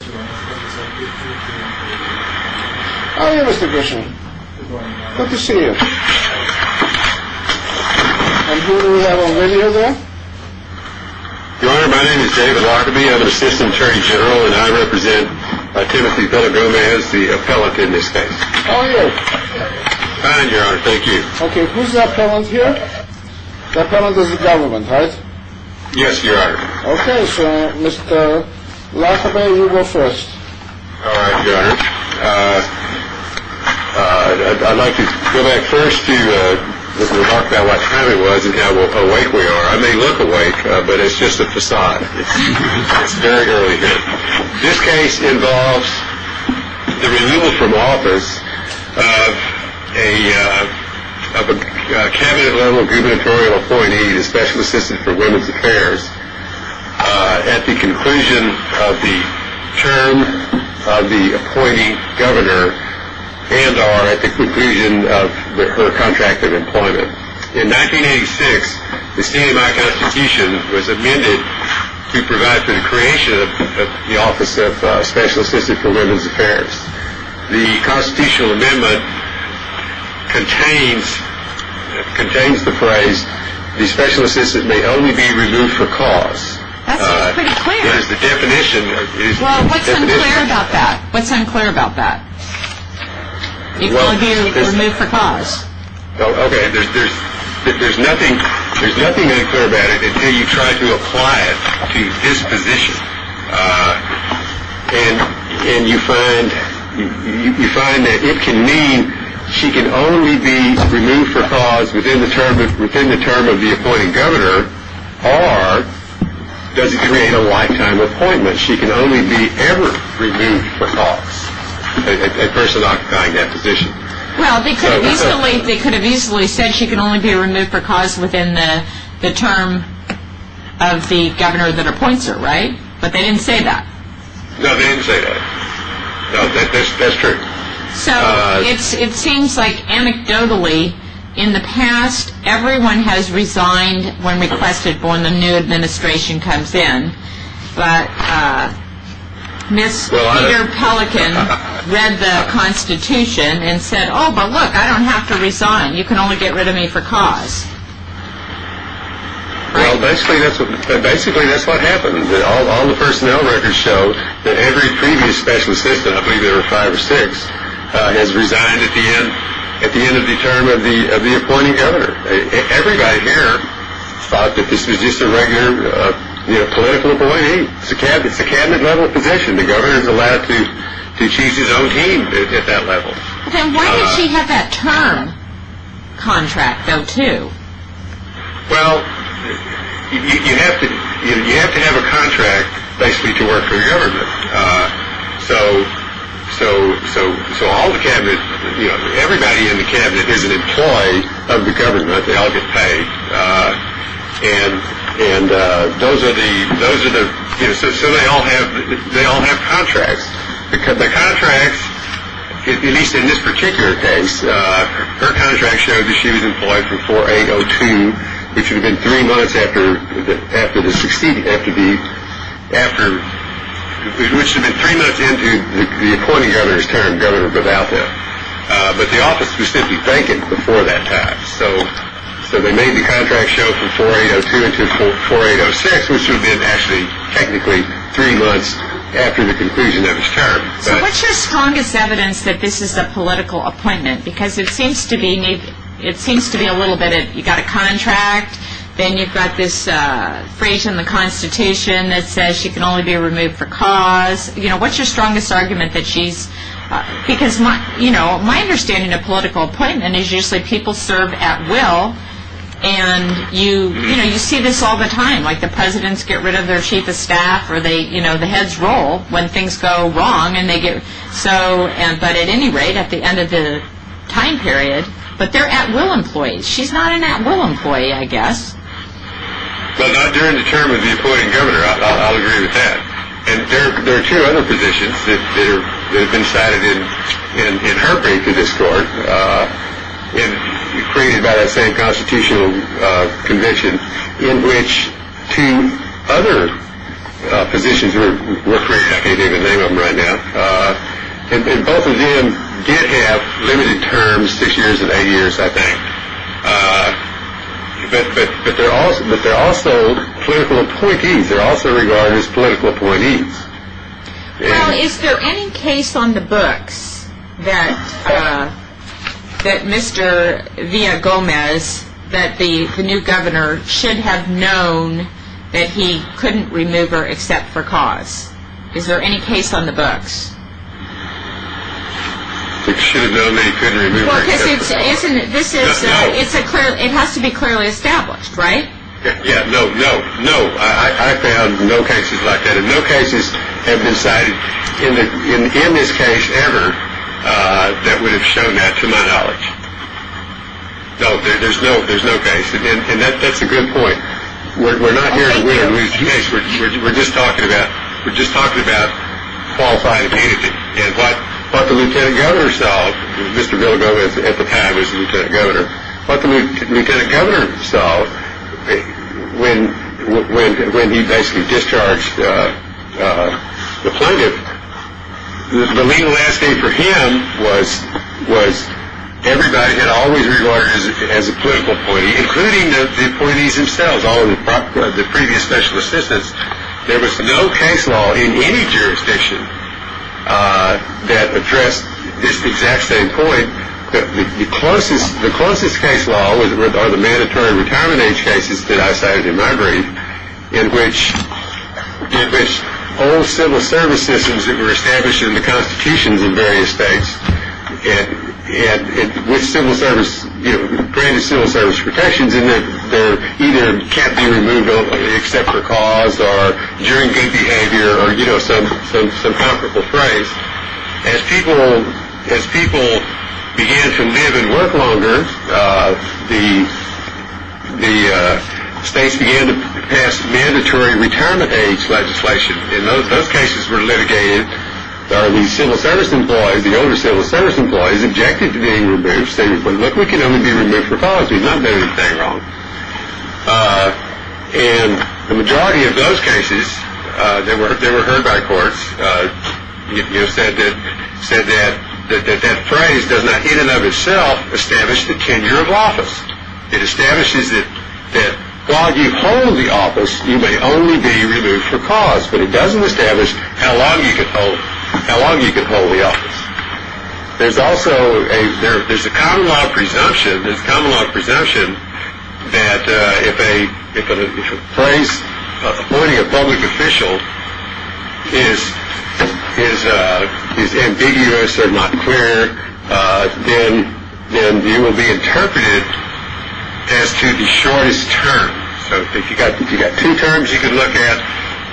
Oh, yes, Mr. Grisham. Good to see you. And who do we have on video there? Your Honor, my name is David Lockerbie. I'm an assistant attorney general, and I represent Timothy Pellegrome as the appellate in this case. Oh, yes. Fine, Your Honor. Thank you. Okay, who's the appellant here? The appellant is the government, right? Yes, Your Honor. Okay, sir. Mr. Lockerbie, you go first. All right, Your Honor. I'd like to go back first to talk about what time it was and how awake we are. I may look awake, but it's just a facade. It's very early here. This case involves the removal from office of a cabinet-level gubernatorial appointee, the Special Assistant for Women's Affairs, at the conclusion of the term of the appointee governor and or at the conclusion of her contract of employment. In 1986, the state of my constitution was amended to provide for the creation of the office of Special Assistant for Women's Affairs. The constitutional amendment contains the phrase, the Special Assistant may only be removed for cause. That sounds pretty clear. It is the definition. Well, what's unclear about that? What's unclear about that? You can only be removed for cause. Okay, there's nothing unclear about it until you try to apply it to this position. And you find that it can mean she can only be removed for cause within the term of the appointed governor or does it create a lifetime appointment? She can only be ever removed for cause, a person occupying that position. Well, they could have easily said she can only be removed for cause within the term of the governor that appoints her, right? But they didn't say that. No, they didn't say that. No, that's true. So it seems like anecdotally in the past everyone has resigned when requested for when the new administration comes in. But Ms. Peter Pelican read the constitution and said, oh, but look, I don't have to resign. You can only get rid of me for cause. Well, basically that's what happened. All the personnel records show that every previous special assistant, I believe there were five or six, has resigned at the end of the term of the appointing governor. Everybody here thought that this was just a regular political appointee. It's a cabinet level position. The governor is allowed to choose his own team at that level. Then why did she have that term contract, though, too? Well, you have to have a contract basically to work for the government. So, so, so, so all the cabinet, you know, everybody in the cabinet is an employee of the government. They all get paid. And and those are the those are the so they all have they all have contracts because the contracts, at least in this particular case, her contract showed that she was employed for 4802. It should have been three months after the after the succeed after the after which had been three months into the appointing of his term governor without him. But the office was simply vacant before that time. So so they made the contract show from 4802 to 4806, which would have been actually technically three months after the conclusion of his term. So what's your strongest evidence that this is a political appointment? Because it seems to be it seems to be a little bit of you got a contract. Then you've got this phrase in the Constitution that says she can only be removed for cause. You know, what's your strongest argument that she's because, you know, my understanding of political appointment is usually people serve at will. And you know, you see this all the time, like the presidents get rid of their chief of staff or they, you know, the heads roll when things go wrong and they get so. But at any rate, at the end of the time period, but they're at will employees. She's not an at will employee, I guess. But not during the term of the appointing governor. I'll agree with that. And there are two other positions that have been cited in her paper. And created by that same constitutional convention in which two other positions were created. I can't even name them right now. And both of them did have limited terms, six years and eight years, I think. But they're also but they're also political appointees. They're also regarded as political appointees. Well, is there any case on the books that Mr. Villagomez, that the new governor, should have known that he couldn't remove her except for cause? Is there any case on the books? It should have known that he couldn't remove her except for cause. It has to be clearly established, right? Yeah, no, no, no. I found no cases like that. And no cases have been cited in this case ever that would have shown that to my knowledge. No, there's no case. And that's a good point. We're not here to win a case. We're just talking about qualifying a candidate. And what the lieutenant governor saw, Mr. Villagomez at the time was the lieutenant governor. What the lieutenant governor saw when he basically discharged the plaintiff, the legal landscape for him was everybody had always regarded as a political appointee, including the appointees themselves, all of the previous special assistants. There was no case law in any jurisdiction that addressed this exact same point. The closest case law are the mandatory retirement age cases that I cited in my brief, in which all civil service systems that were established in the constitutions in various states, with civil service, granted civil service protections, and they either can't be removed except for cause or during good behavior or some comparable phrase. As people began to live and work longer, the states began to pass mandatory retirement age legislation, and those cases were litigated. The civil service employees, the older civil service employees objected to being removed. They said, look, we can only be removed for policy. There's nothing wrong. And the majority of those cases that were heard by courts said that that phrase does not in and of itself establish the tenure of office. It establishes that while you hold the office, you may only be removed for cause, but it doesn't establish how long you can hold the office. There's also a common law presumption that if a place appointing a public official is ambiguous or not clear, then you will be interpreted as to the shortest term. So if you've got two terms you can look at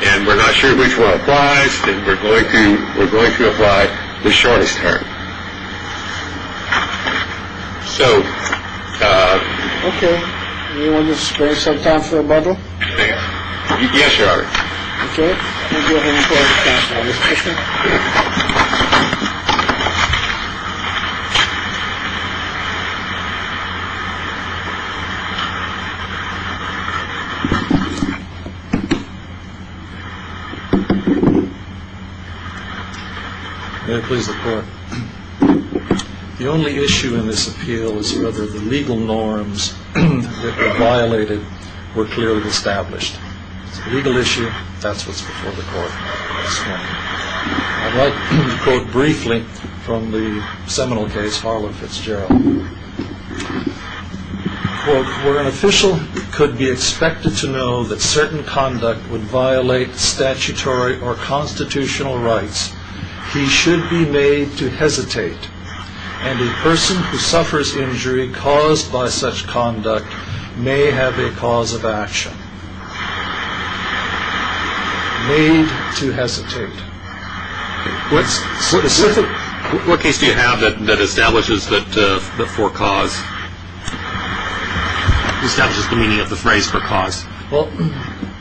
and we're not sure which one applies, we're going to we're going to apply the shortest term. So you want to spend some time for a bubble. Yes, you are. Thank you. The only issue in this appeal is whether the legal norms violated were clearly established. It's a legal issue. That's what's before the court. I'd like to quote briefly from the seminal case, Harlan Fitzgerald, where an official could be expected to know that certain conduct would violate statutory or constitutional rights. He should be made to hesitate. And a person who suffers injury caused by such conduct may have a cause of action. Made to hesitate. What case do you have that establishes that for cause? Establishes the meaning of the phrase for cause. Well,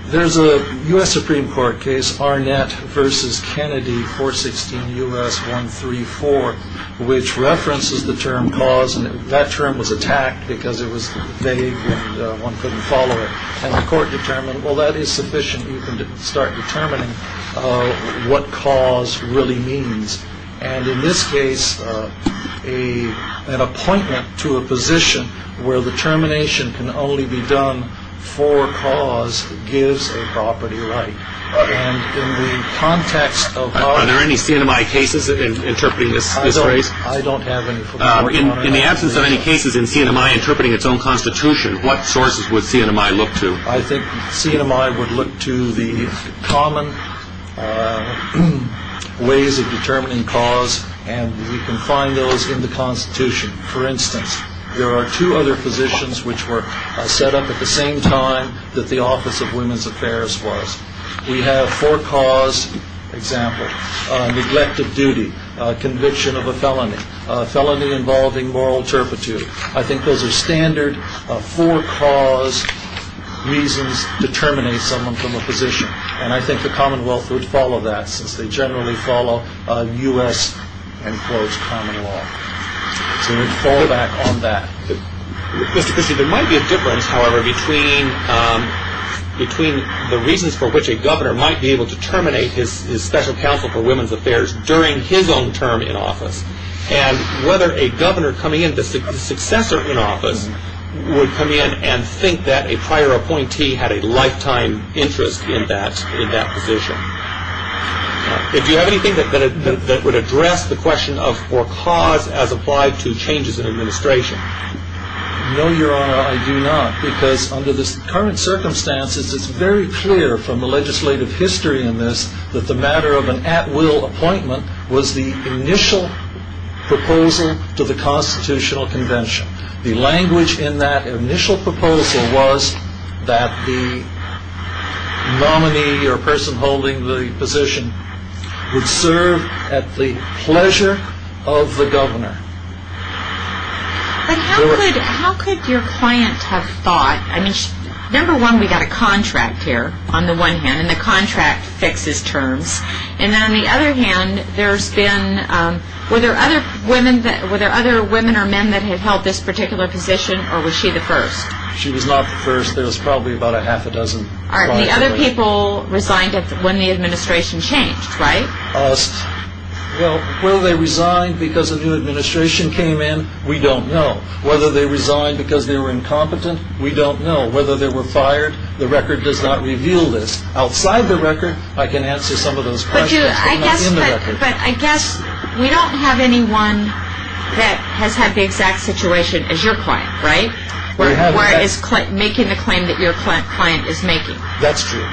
there's a U.S. Supreme Court case, Arnett versus Kennedy, 416 U.S. 134, which references the term cause. And that term was attacked because it was vague and one couldn't follow it. And the court determined, well, that is sufficient. You can start determining what cause really means. And in this case, an appointment to a position where the termination can only be done for cause gives a property right. And in the context of. Are there any CNMI cases interpreting this phrase? I don't have any. In the absence of any cases in CNMI interpreting its own constitution, what sources would CNMI look to? I think CNMI would look to the common ways of determining cause. And you can find those in the Constitution. For instance, there are two other positions which were set up at the same time that the Office of Women's Affairs was. We have for cause, for example, neglect of duty, conviction of a felony, felony involving moral turpitude. I think those are standard for cause reasons to terminate someone from a position. And I think the Commonwealth would follow that since they generally follow U.S. and close common law. So I'm going to fall back on that. Mr. Cussey, there might be a difference, however, between the reasons for which a governor might be able to terminate his special counsel for women's affairs during his own term in office and whether a governor coming in, the successor in office, would come in and think that a prior appointee had a lifetime interest in that position. Do you have anything that would address the question of for cause as applied to changes in administration? No, Your Honor, I do not. Because under the current circumstances, it's very clear from the legislative history in this that the matter of an at-will appointment was the initial proposal to the Constitutional Convention. The language in that initial proposal was that the nominee or person holding the position would serve at the pleasure of the governor. But how could your client have thought, I mean, number one, we've got a contract here, on the one hand, and the contract fixes terms. And on the other hand, there's been, were there other women or men that had held this particular position, or was she the first? She was not the first. There was probably about a half a dozen. And the other people resigned when the administration changed, right? Well, whether they resigned because a new administration came in, we don't know. Whether they resigned because they were incompetent, we don't know. Whether they were fired, the record does not reveal this. Outside the record, I can answer some of those questions, but not in the record. But I guess we don't have anyone that has had the exact situation as your client, right? Whereas Clinton, making the claim that your client is making. That's true.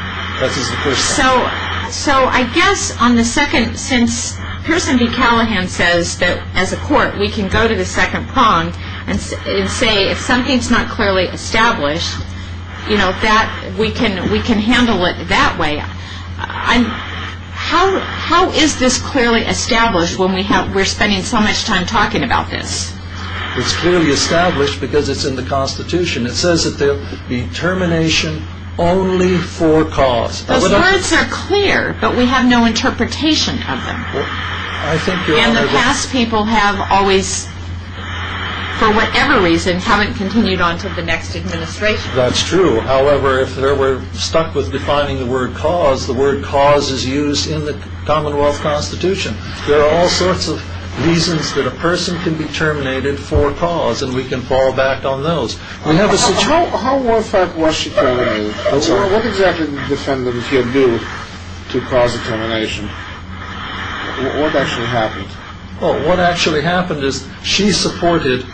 So I guess on the second, since person B Callahan says that as a court, we can go to the second prong and say, if something's not clearly established, you know, that we can handle it that way. How is this clearly established when we're spending so much time talking about this? It's clearly established because it's in the Constitution. It says that there will be termination only for cause. Those words are clear, but we have no interpretation of them. And the past people have always, for whatever reason, haven't continued on to the next administration. That's true. However, if we're stuck with defining the word cause, the word cause is used in the Commonwealth Constitution. There are all sorts of reasons that a person can be terminated for cause, and we can fall back on those. How horrific was she terminated? What exactly did the defendant here do to cause termination? What actually happened? What actually happened is she supported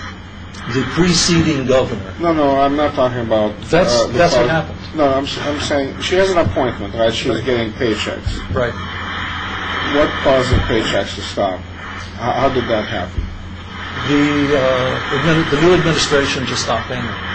the preceding governor. No, no, I'm not talking about... That's what happened. No, I'm saying, she has an appointment, right? She's getting paychecks. Right. What caused the paychecks to stop? How did that happen? The new administration just stopped paying her.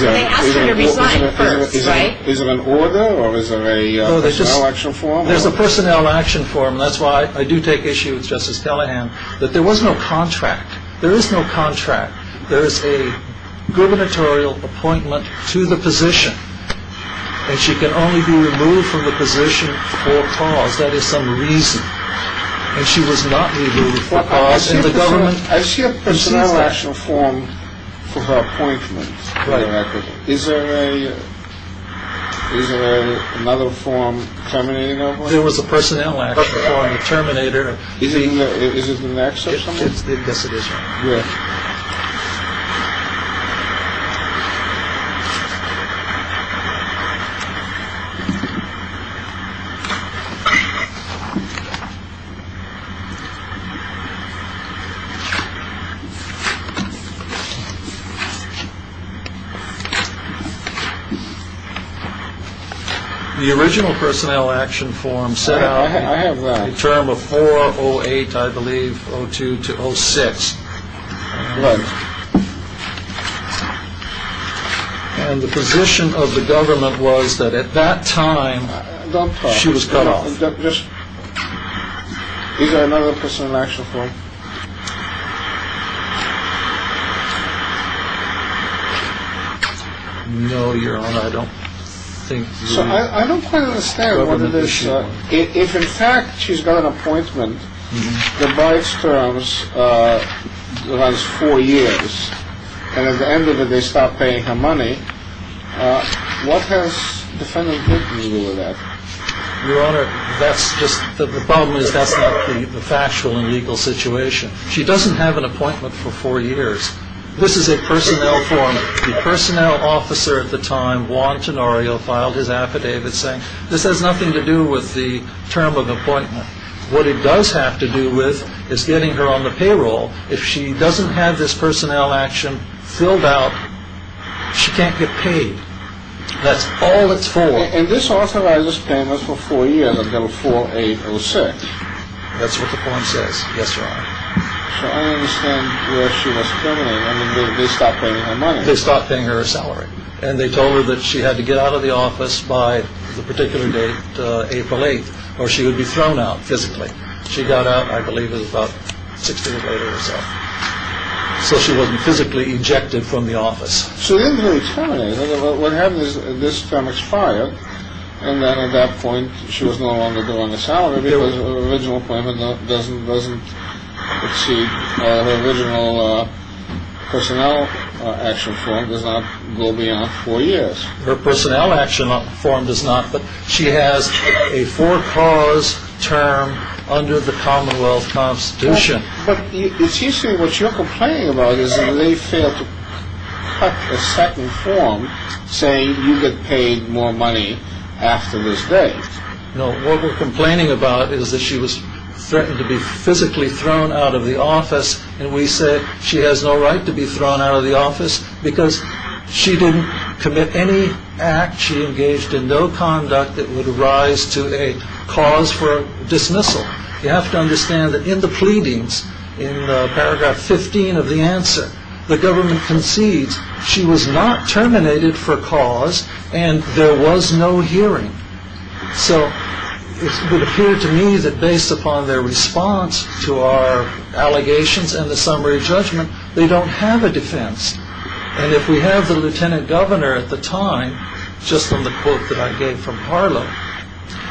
They asked her to resign first, right? Is it an order, or is it a personnel action form? There's a personnel action form. That's why I do take issue with Justice Callahan, that there was no contract. There is no contract. There is a gubernatorial appointment to the position. And she can only be removed from the position for cause. That is some reason. And she was not removed for cause, and the government... I see a personnel action form for her appointment. Right. Is there another form terminating that one? There was a personnel action form, a terminator. Is it in the NACSA or something? Yes, it is. Here. The original personnel action form set out a term of 408, I believe, 02 to 06. Right. And the position of the government was that at that time, she was cut off. Is there another personnel action form? No, Your Honor, I don't think... I don't quite understand what it is. If, in fact, she's got an appointment, then by its terms, it has four years. And at the end of it, they stop paying her money. What has defendant did with that? Your Honor, the problem is that's not the factual and legal situation. She doesn't have an appointment for four years. This is a personnel form. The personnel officer at the time, Juan Tenorio, filed his affidavit saying, this has nothing to do with the term of appointment. What it does have to do with is getting her on the payroll. If she doesn't have this personnel action filled out, she can't get paid. That's all it's for. And this authorizes payments for four years until 4806. That's what the form says. Yes, Your Honor. So I don't understand where she was terminated. I mean, they stopped paying her money. They stopped paying her a salary. And they told her that she had to get out of the office by the particular date, April 8th, or she would be thrown out physically. She got out, I believe, at about 6 p.m. or so. So she wasn't physically ejected from the office. So they didn't really terminate her. What happened is this term expired. And then at that point, she was no longer doing the salary Her original appointment doesn't exceed. Her original personnel action form does not go beyond four years. Her personnel action form does not. But she has a for-cause term under the Commonwealth Constitution. But it seems to me what you're complaining about is that they failed to cut a second form saying you get paid more money after this date. No, what we're complaining about is that she was threatened to be physically thrown out of the office. And we said she has no right to be thrown out of the office because she didn't commit any act. She engaged in no conduct that would arise to a cause for dismissal. You have to understand that in the pleadings, in paragraph 15 of the answer, the government concedes she was not terminated for cause and there was no hearing. So it appeared to me that based upon their response to our allegations and the summary judgment, they don't have a defense. And if we have the lieutenant governor at the time, just on the quote that I gave from Harlow,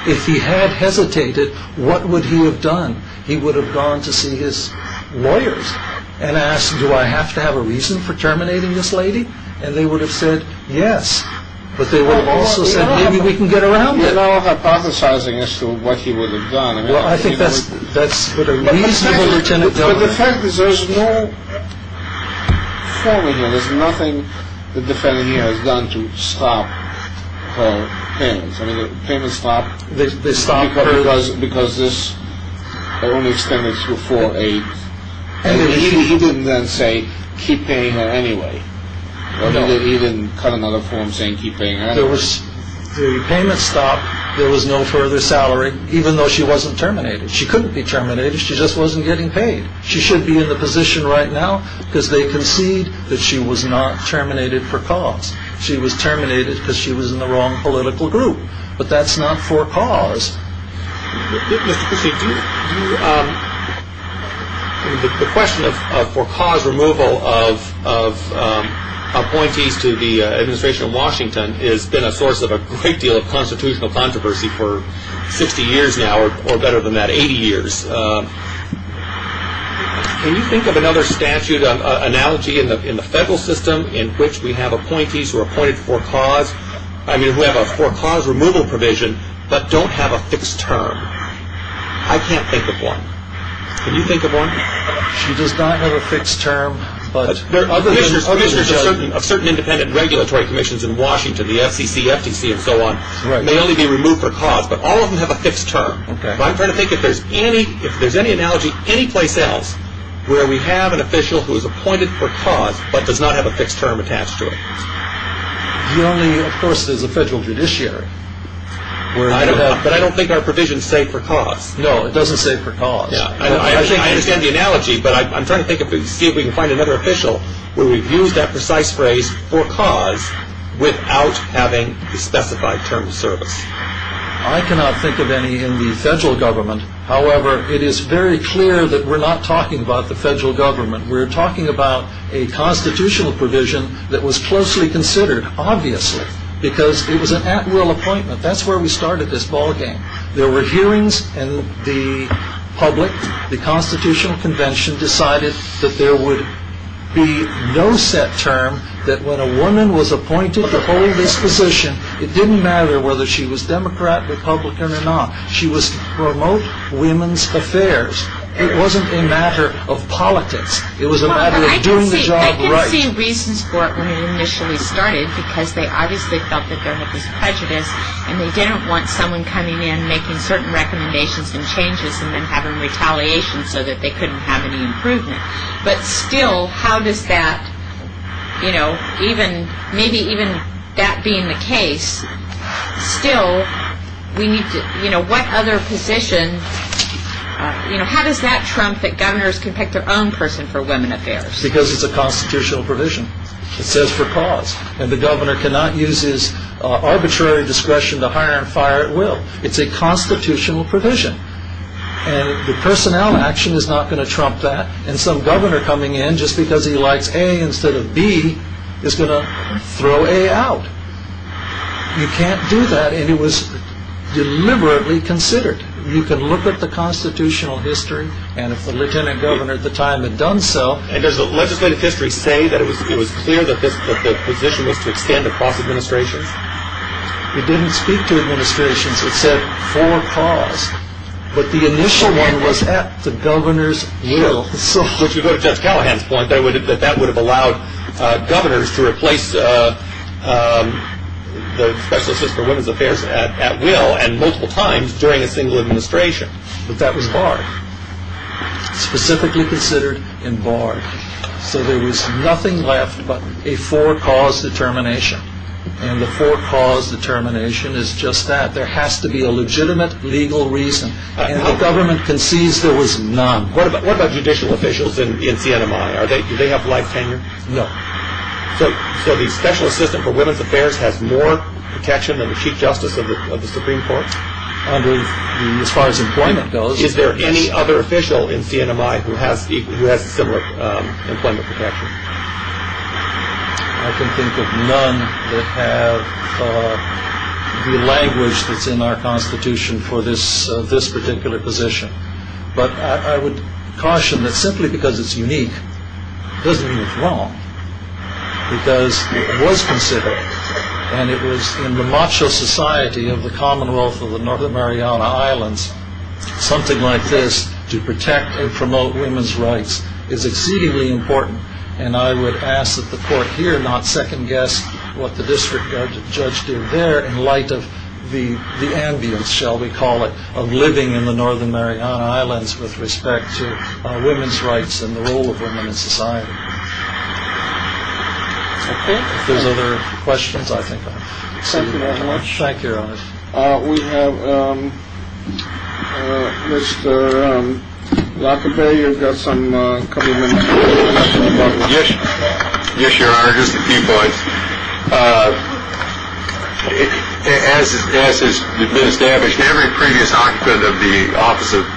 if he had hesitated, what would he have done? He would have gone to see his lawyers and asked, do I have to have a reason for terminating this lady? And they would have said yes. But they would have also said maybe we can get around it. You're now hypothesizing as to what he would have done. Well, I think that's reasonable, lieutenant governor. But the fact is there's no form here. There's nothing the defendant here has done to stop her payments. I mean, the payments stopped because this only extended to 4-8. And he didn't then say keep paying her anyway. He didn't cut another form saying keep paying her anyway. The payments stopped. There was no further salary, even though she wasn't terminated. She couldn't be terminated. She just wasn't getting paid. She should be in the position right now because they concede that she was not terminated for cause. She was terminated because she was in the wrong political group. But that's not for cause. Mr. Cusick, the question of for cause removal of appointees to the administration of Washington has been a source of a great deal of constitutional controversy for 60 years now, or better than that, 80 years. Can you think of another statute, an analogy in the federal system in which we have appointees who are appointed for cause, I mean, who have a for cause removal provision but don't have a fixed term? I can't think of one. Can you think of one? She does not have a fixed term. There are certain independent regulatory commissions in Washington, the FCC, FTC, and so on. They only be removed for cause, but all of them have a fixed term. I'm trying to think if there's any analogy anyplace else where we have an official who is appointed for cause but does not have a fixed term attached to it. The only, of course, is a federal judiciary. But I don't think our provisions say for cause. No, it doesn't say for cause. I understand the analogy, but I'm trying to think if we can find another official where we've used that precise phrase for cause without having the specified term of service. I cannot think of any in the federal government. However, it is very clear that we're not talking about the federal government. We're talking about a constitutional provision that was closely considered, obviously, because it was an at-will appointment. That's where we started this ballgame. There were hearings, and the public, the Constitutional Convention, decided that there would be no set term, that when a woman was appointed to hold this position, it didn't matter whether she was Democrat, Republican, or not. She was to promote women's affairs. It wasn't a matter of politics. It was a matter of doing the job right. Well, I can see reasons for it when it initially started, because they obviously felt that there was prejudice, and they didn't want someone coming in, making certain recommendations and changes, and then having retaliation so that they couldn't have any improvement. But still, how does that, you know, even, maybe even that being the case, still, we need to, you know, what other position, you know, how does that trump that governors can pick their own person for women affairs? Because it's a constitutional provision. It says for cause. And the governor cannot use his arbitrary discretion to hire and fire at will. It's a constitutional provision. And the personnel action is not going to trump that. And some governor coming in, just because he likes A instead of B, is going to throw A out. You can't do that, and it was deliberately considered. You can look at the constitutional history, and if the lieutenant governor at the time had done so. And does the legislative history say that it was clear that the position was to extend across administrations? It didn't speak to administrations. It said for cause. But the initial one was at the governor's will. So if you go to Judge Callahan's point, that would have allowed governors to replace the specialist for women's affairs at will, and multiple times during a single administration. But that was barred. Specifically considered and barred. So there was nothing left but a for cause determination. And the for cause determination is just that. There has to be a legitimate legal reason. And the government concedes there was none. What about judicial officials in CNMI? Do they have life tenure? No. So the special assistant for women's affairs has more protection than the chief justice of the Supreme Court? As far as employment goes, yes. Is there any other official in CNMI who has similar employment protection? I can think of none that have the language that's in our constitution for this particular position. But I would caution that simply because it's unique doesn't mean it's wrong. Because it was considered, and it was in the macho society of the Commonwealth of the Northern Mariana Islands, something like this to protect and promote women's rights is exceedingly important. And I would ask that the court here not second-guess what the district judge did there in light of the ambience, shall we call it, of living in the Northern Mariana Islands with respect to women's rights and the role of women in society. If there's other questions, I think I've said enough. Thank you very much. We have Mr. Lockerbie. You've got a couple of minutes. Yes, Your Honor, just a few points. As has been established, every previous occupant of the office of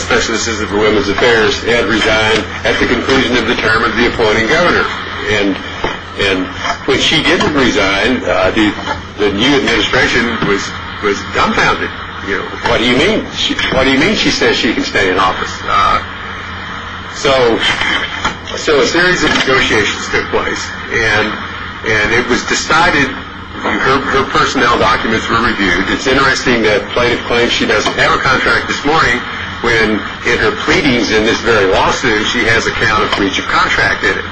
special assistant for women's affairs had resigned at the conclusion of the term of the appointing governor. And when she didn't resign, the new administration was dumbfounded. What do you mean? What do you mean she says she can stay in office? So a series of negotiations took place, and it was decided her personnel documents were reviewed. It's interesting that plaintiff claims she doesn't have a contract this morning when in her pleadings in this very lawsuit she has a count of breach of contract in it.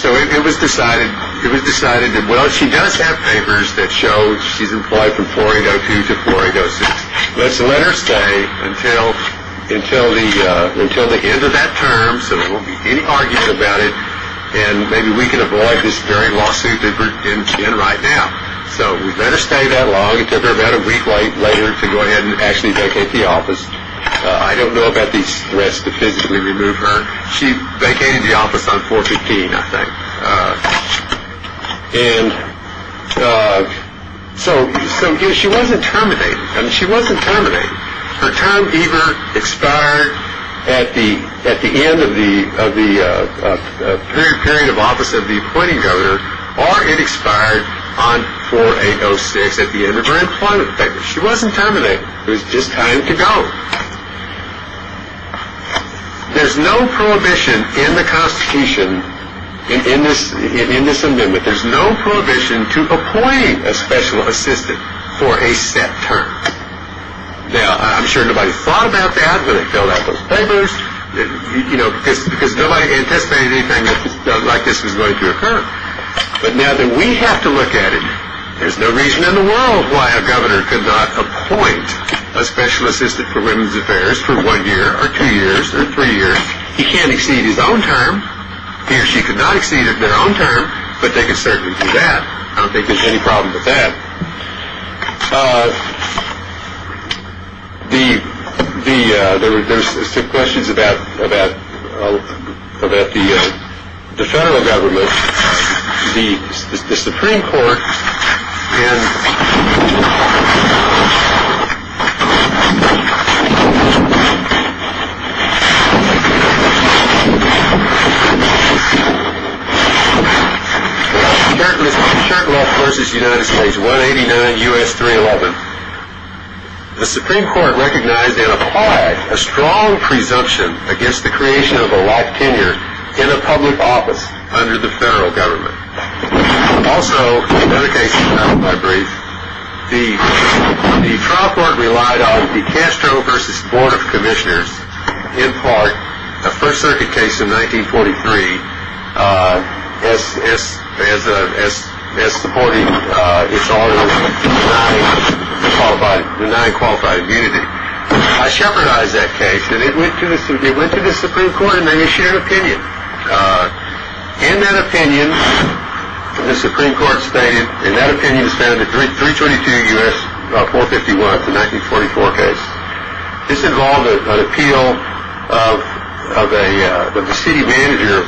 So it was decided that, well, she does have papers that show she's employed from 4802 to 4806. Let's let her stay until the end of that term so there won't be any argument about it, and maybe we can avoid this very lawsuit that we're in right now. So we'd better stay that long. It took her about a week later to go ahead and actually vacate the office. I don't know about the risk to physically remove her. She vacated the office on 415, I think. And so she wasn't terminated. I mean, she wasn't terminated. Her term either expired at the end of the period of office of the appointing governor or it expired on 4806 at the end of her employment papers. She wasn't terminated. It was just time to go. There's no prohibition in the Constitution, in this amendment, there's no prohibition to appoint a special assistant for a set term. Now, I'm sure nobody thought about that when they filled out those papers, because nobody anticipated anything like this was going to occur. But now that we have to look at it, there's no reason in the world why a governor could not appoint a special assistant for women's affairs for one year or two years or three years. He can't exceed his own term. He or she could not exceed their own term, but they could certainly do that. I don't think there's any problem with that. There were questions about the federal government, the Supreme Court, in Shurtleff v. United States, 189 U.S. 311. The Supreme Court recognized and applied a strong presumption against the creation of a life tenure in a public office under the federal government. Also, another case I'll brief. The trial court relied on the Castro v. Board of Commissioners, in part, a First Circuit case in 1943 as supporting its orders of denying qualified immunity. I shepherdized that case, and it went to the Supreme Court, and they shared an opinion. In that opinion, the Supreme Court stated, in that opinion, as found in the 322 U.S. 451 of the 1944 case, this involved an appeal of the city manager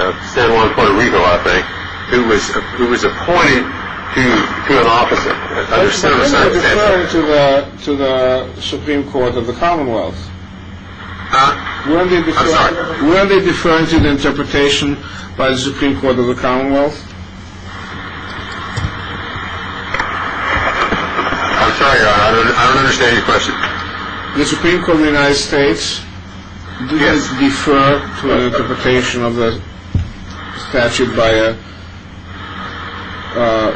of San Juan Puerto Rico, I think, who was appointed to an office. When did they refer to the Supreme Court of the Commonwealth? I'm sorry. When did they refer to the interpretation by the Supreme Court of the Commonwealth? I'm sorry, I don't understand your question. The Supreme Court of the United States? Yes. Did it defer to an interpretation of the statute by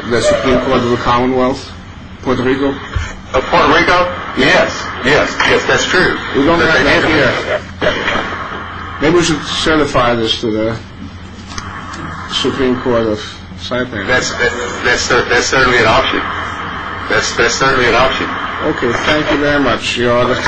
the Supreme Court of the Commonwealth of Puerto Rico? Of Puerto Rico? Yes. Yes, that's true. We don't have that here. Maybe we should certify this to the Supreme Court of Saipan. That's certainly an option. That's certainly an option. Okay, thank you very much. You're all welcome. Thank you. Thank you. I'm sorry. We're cancelling it. Roger.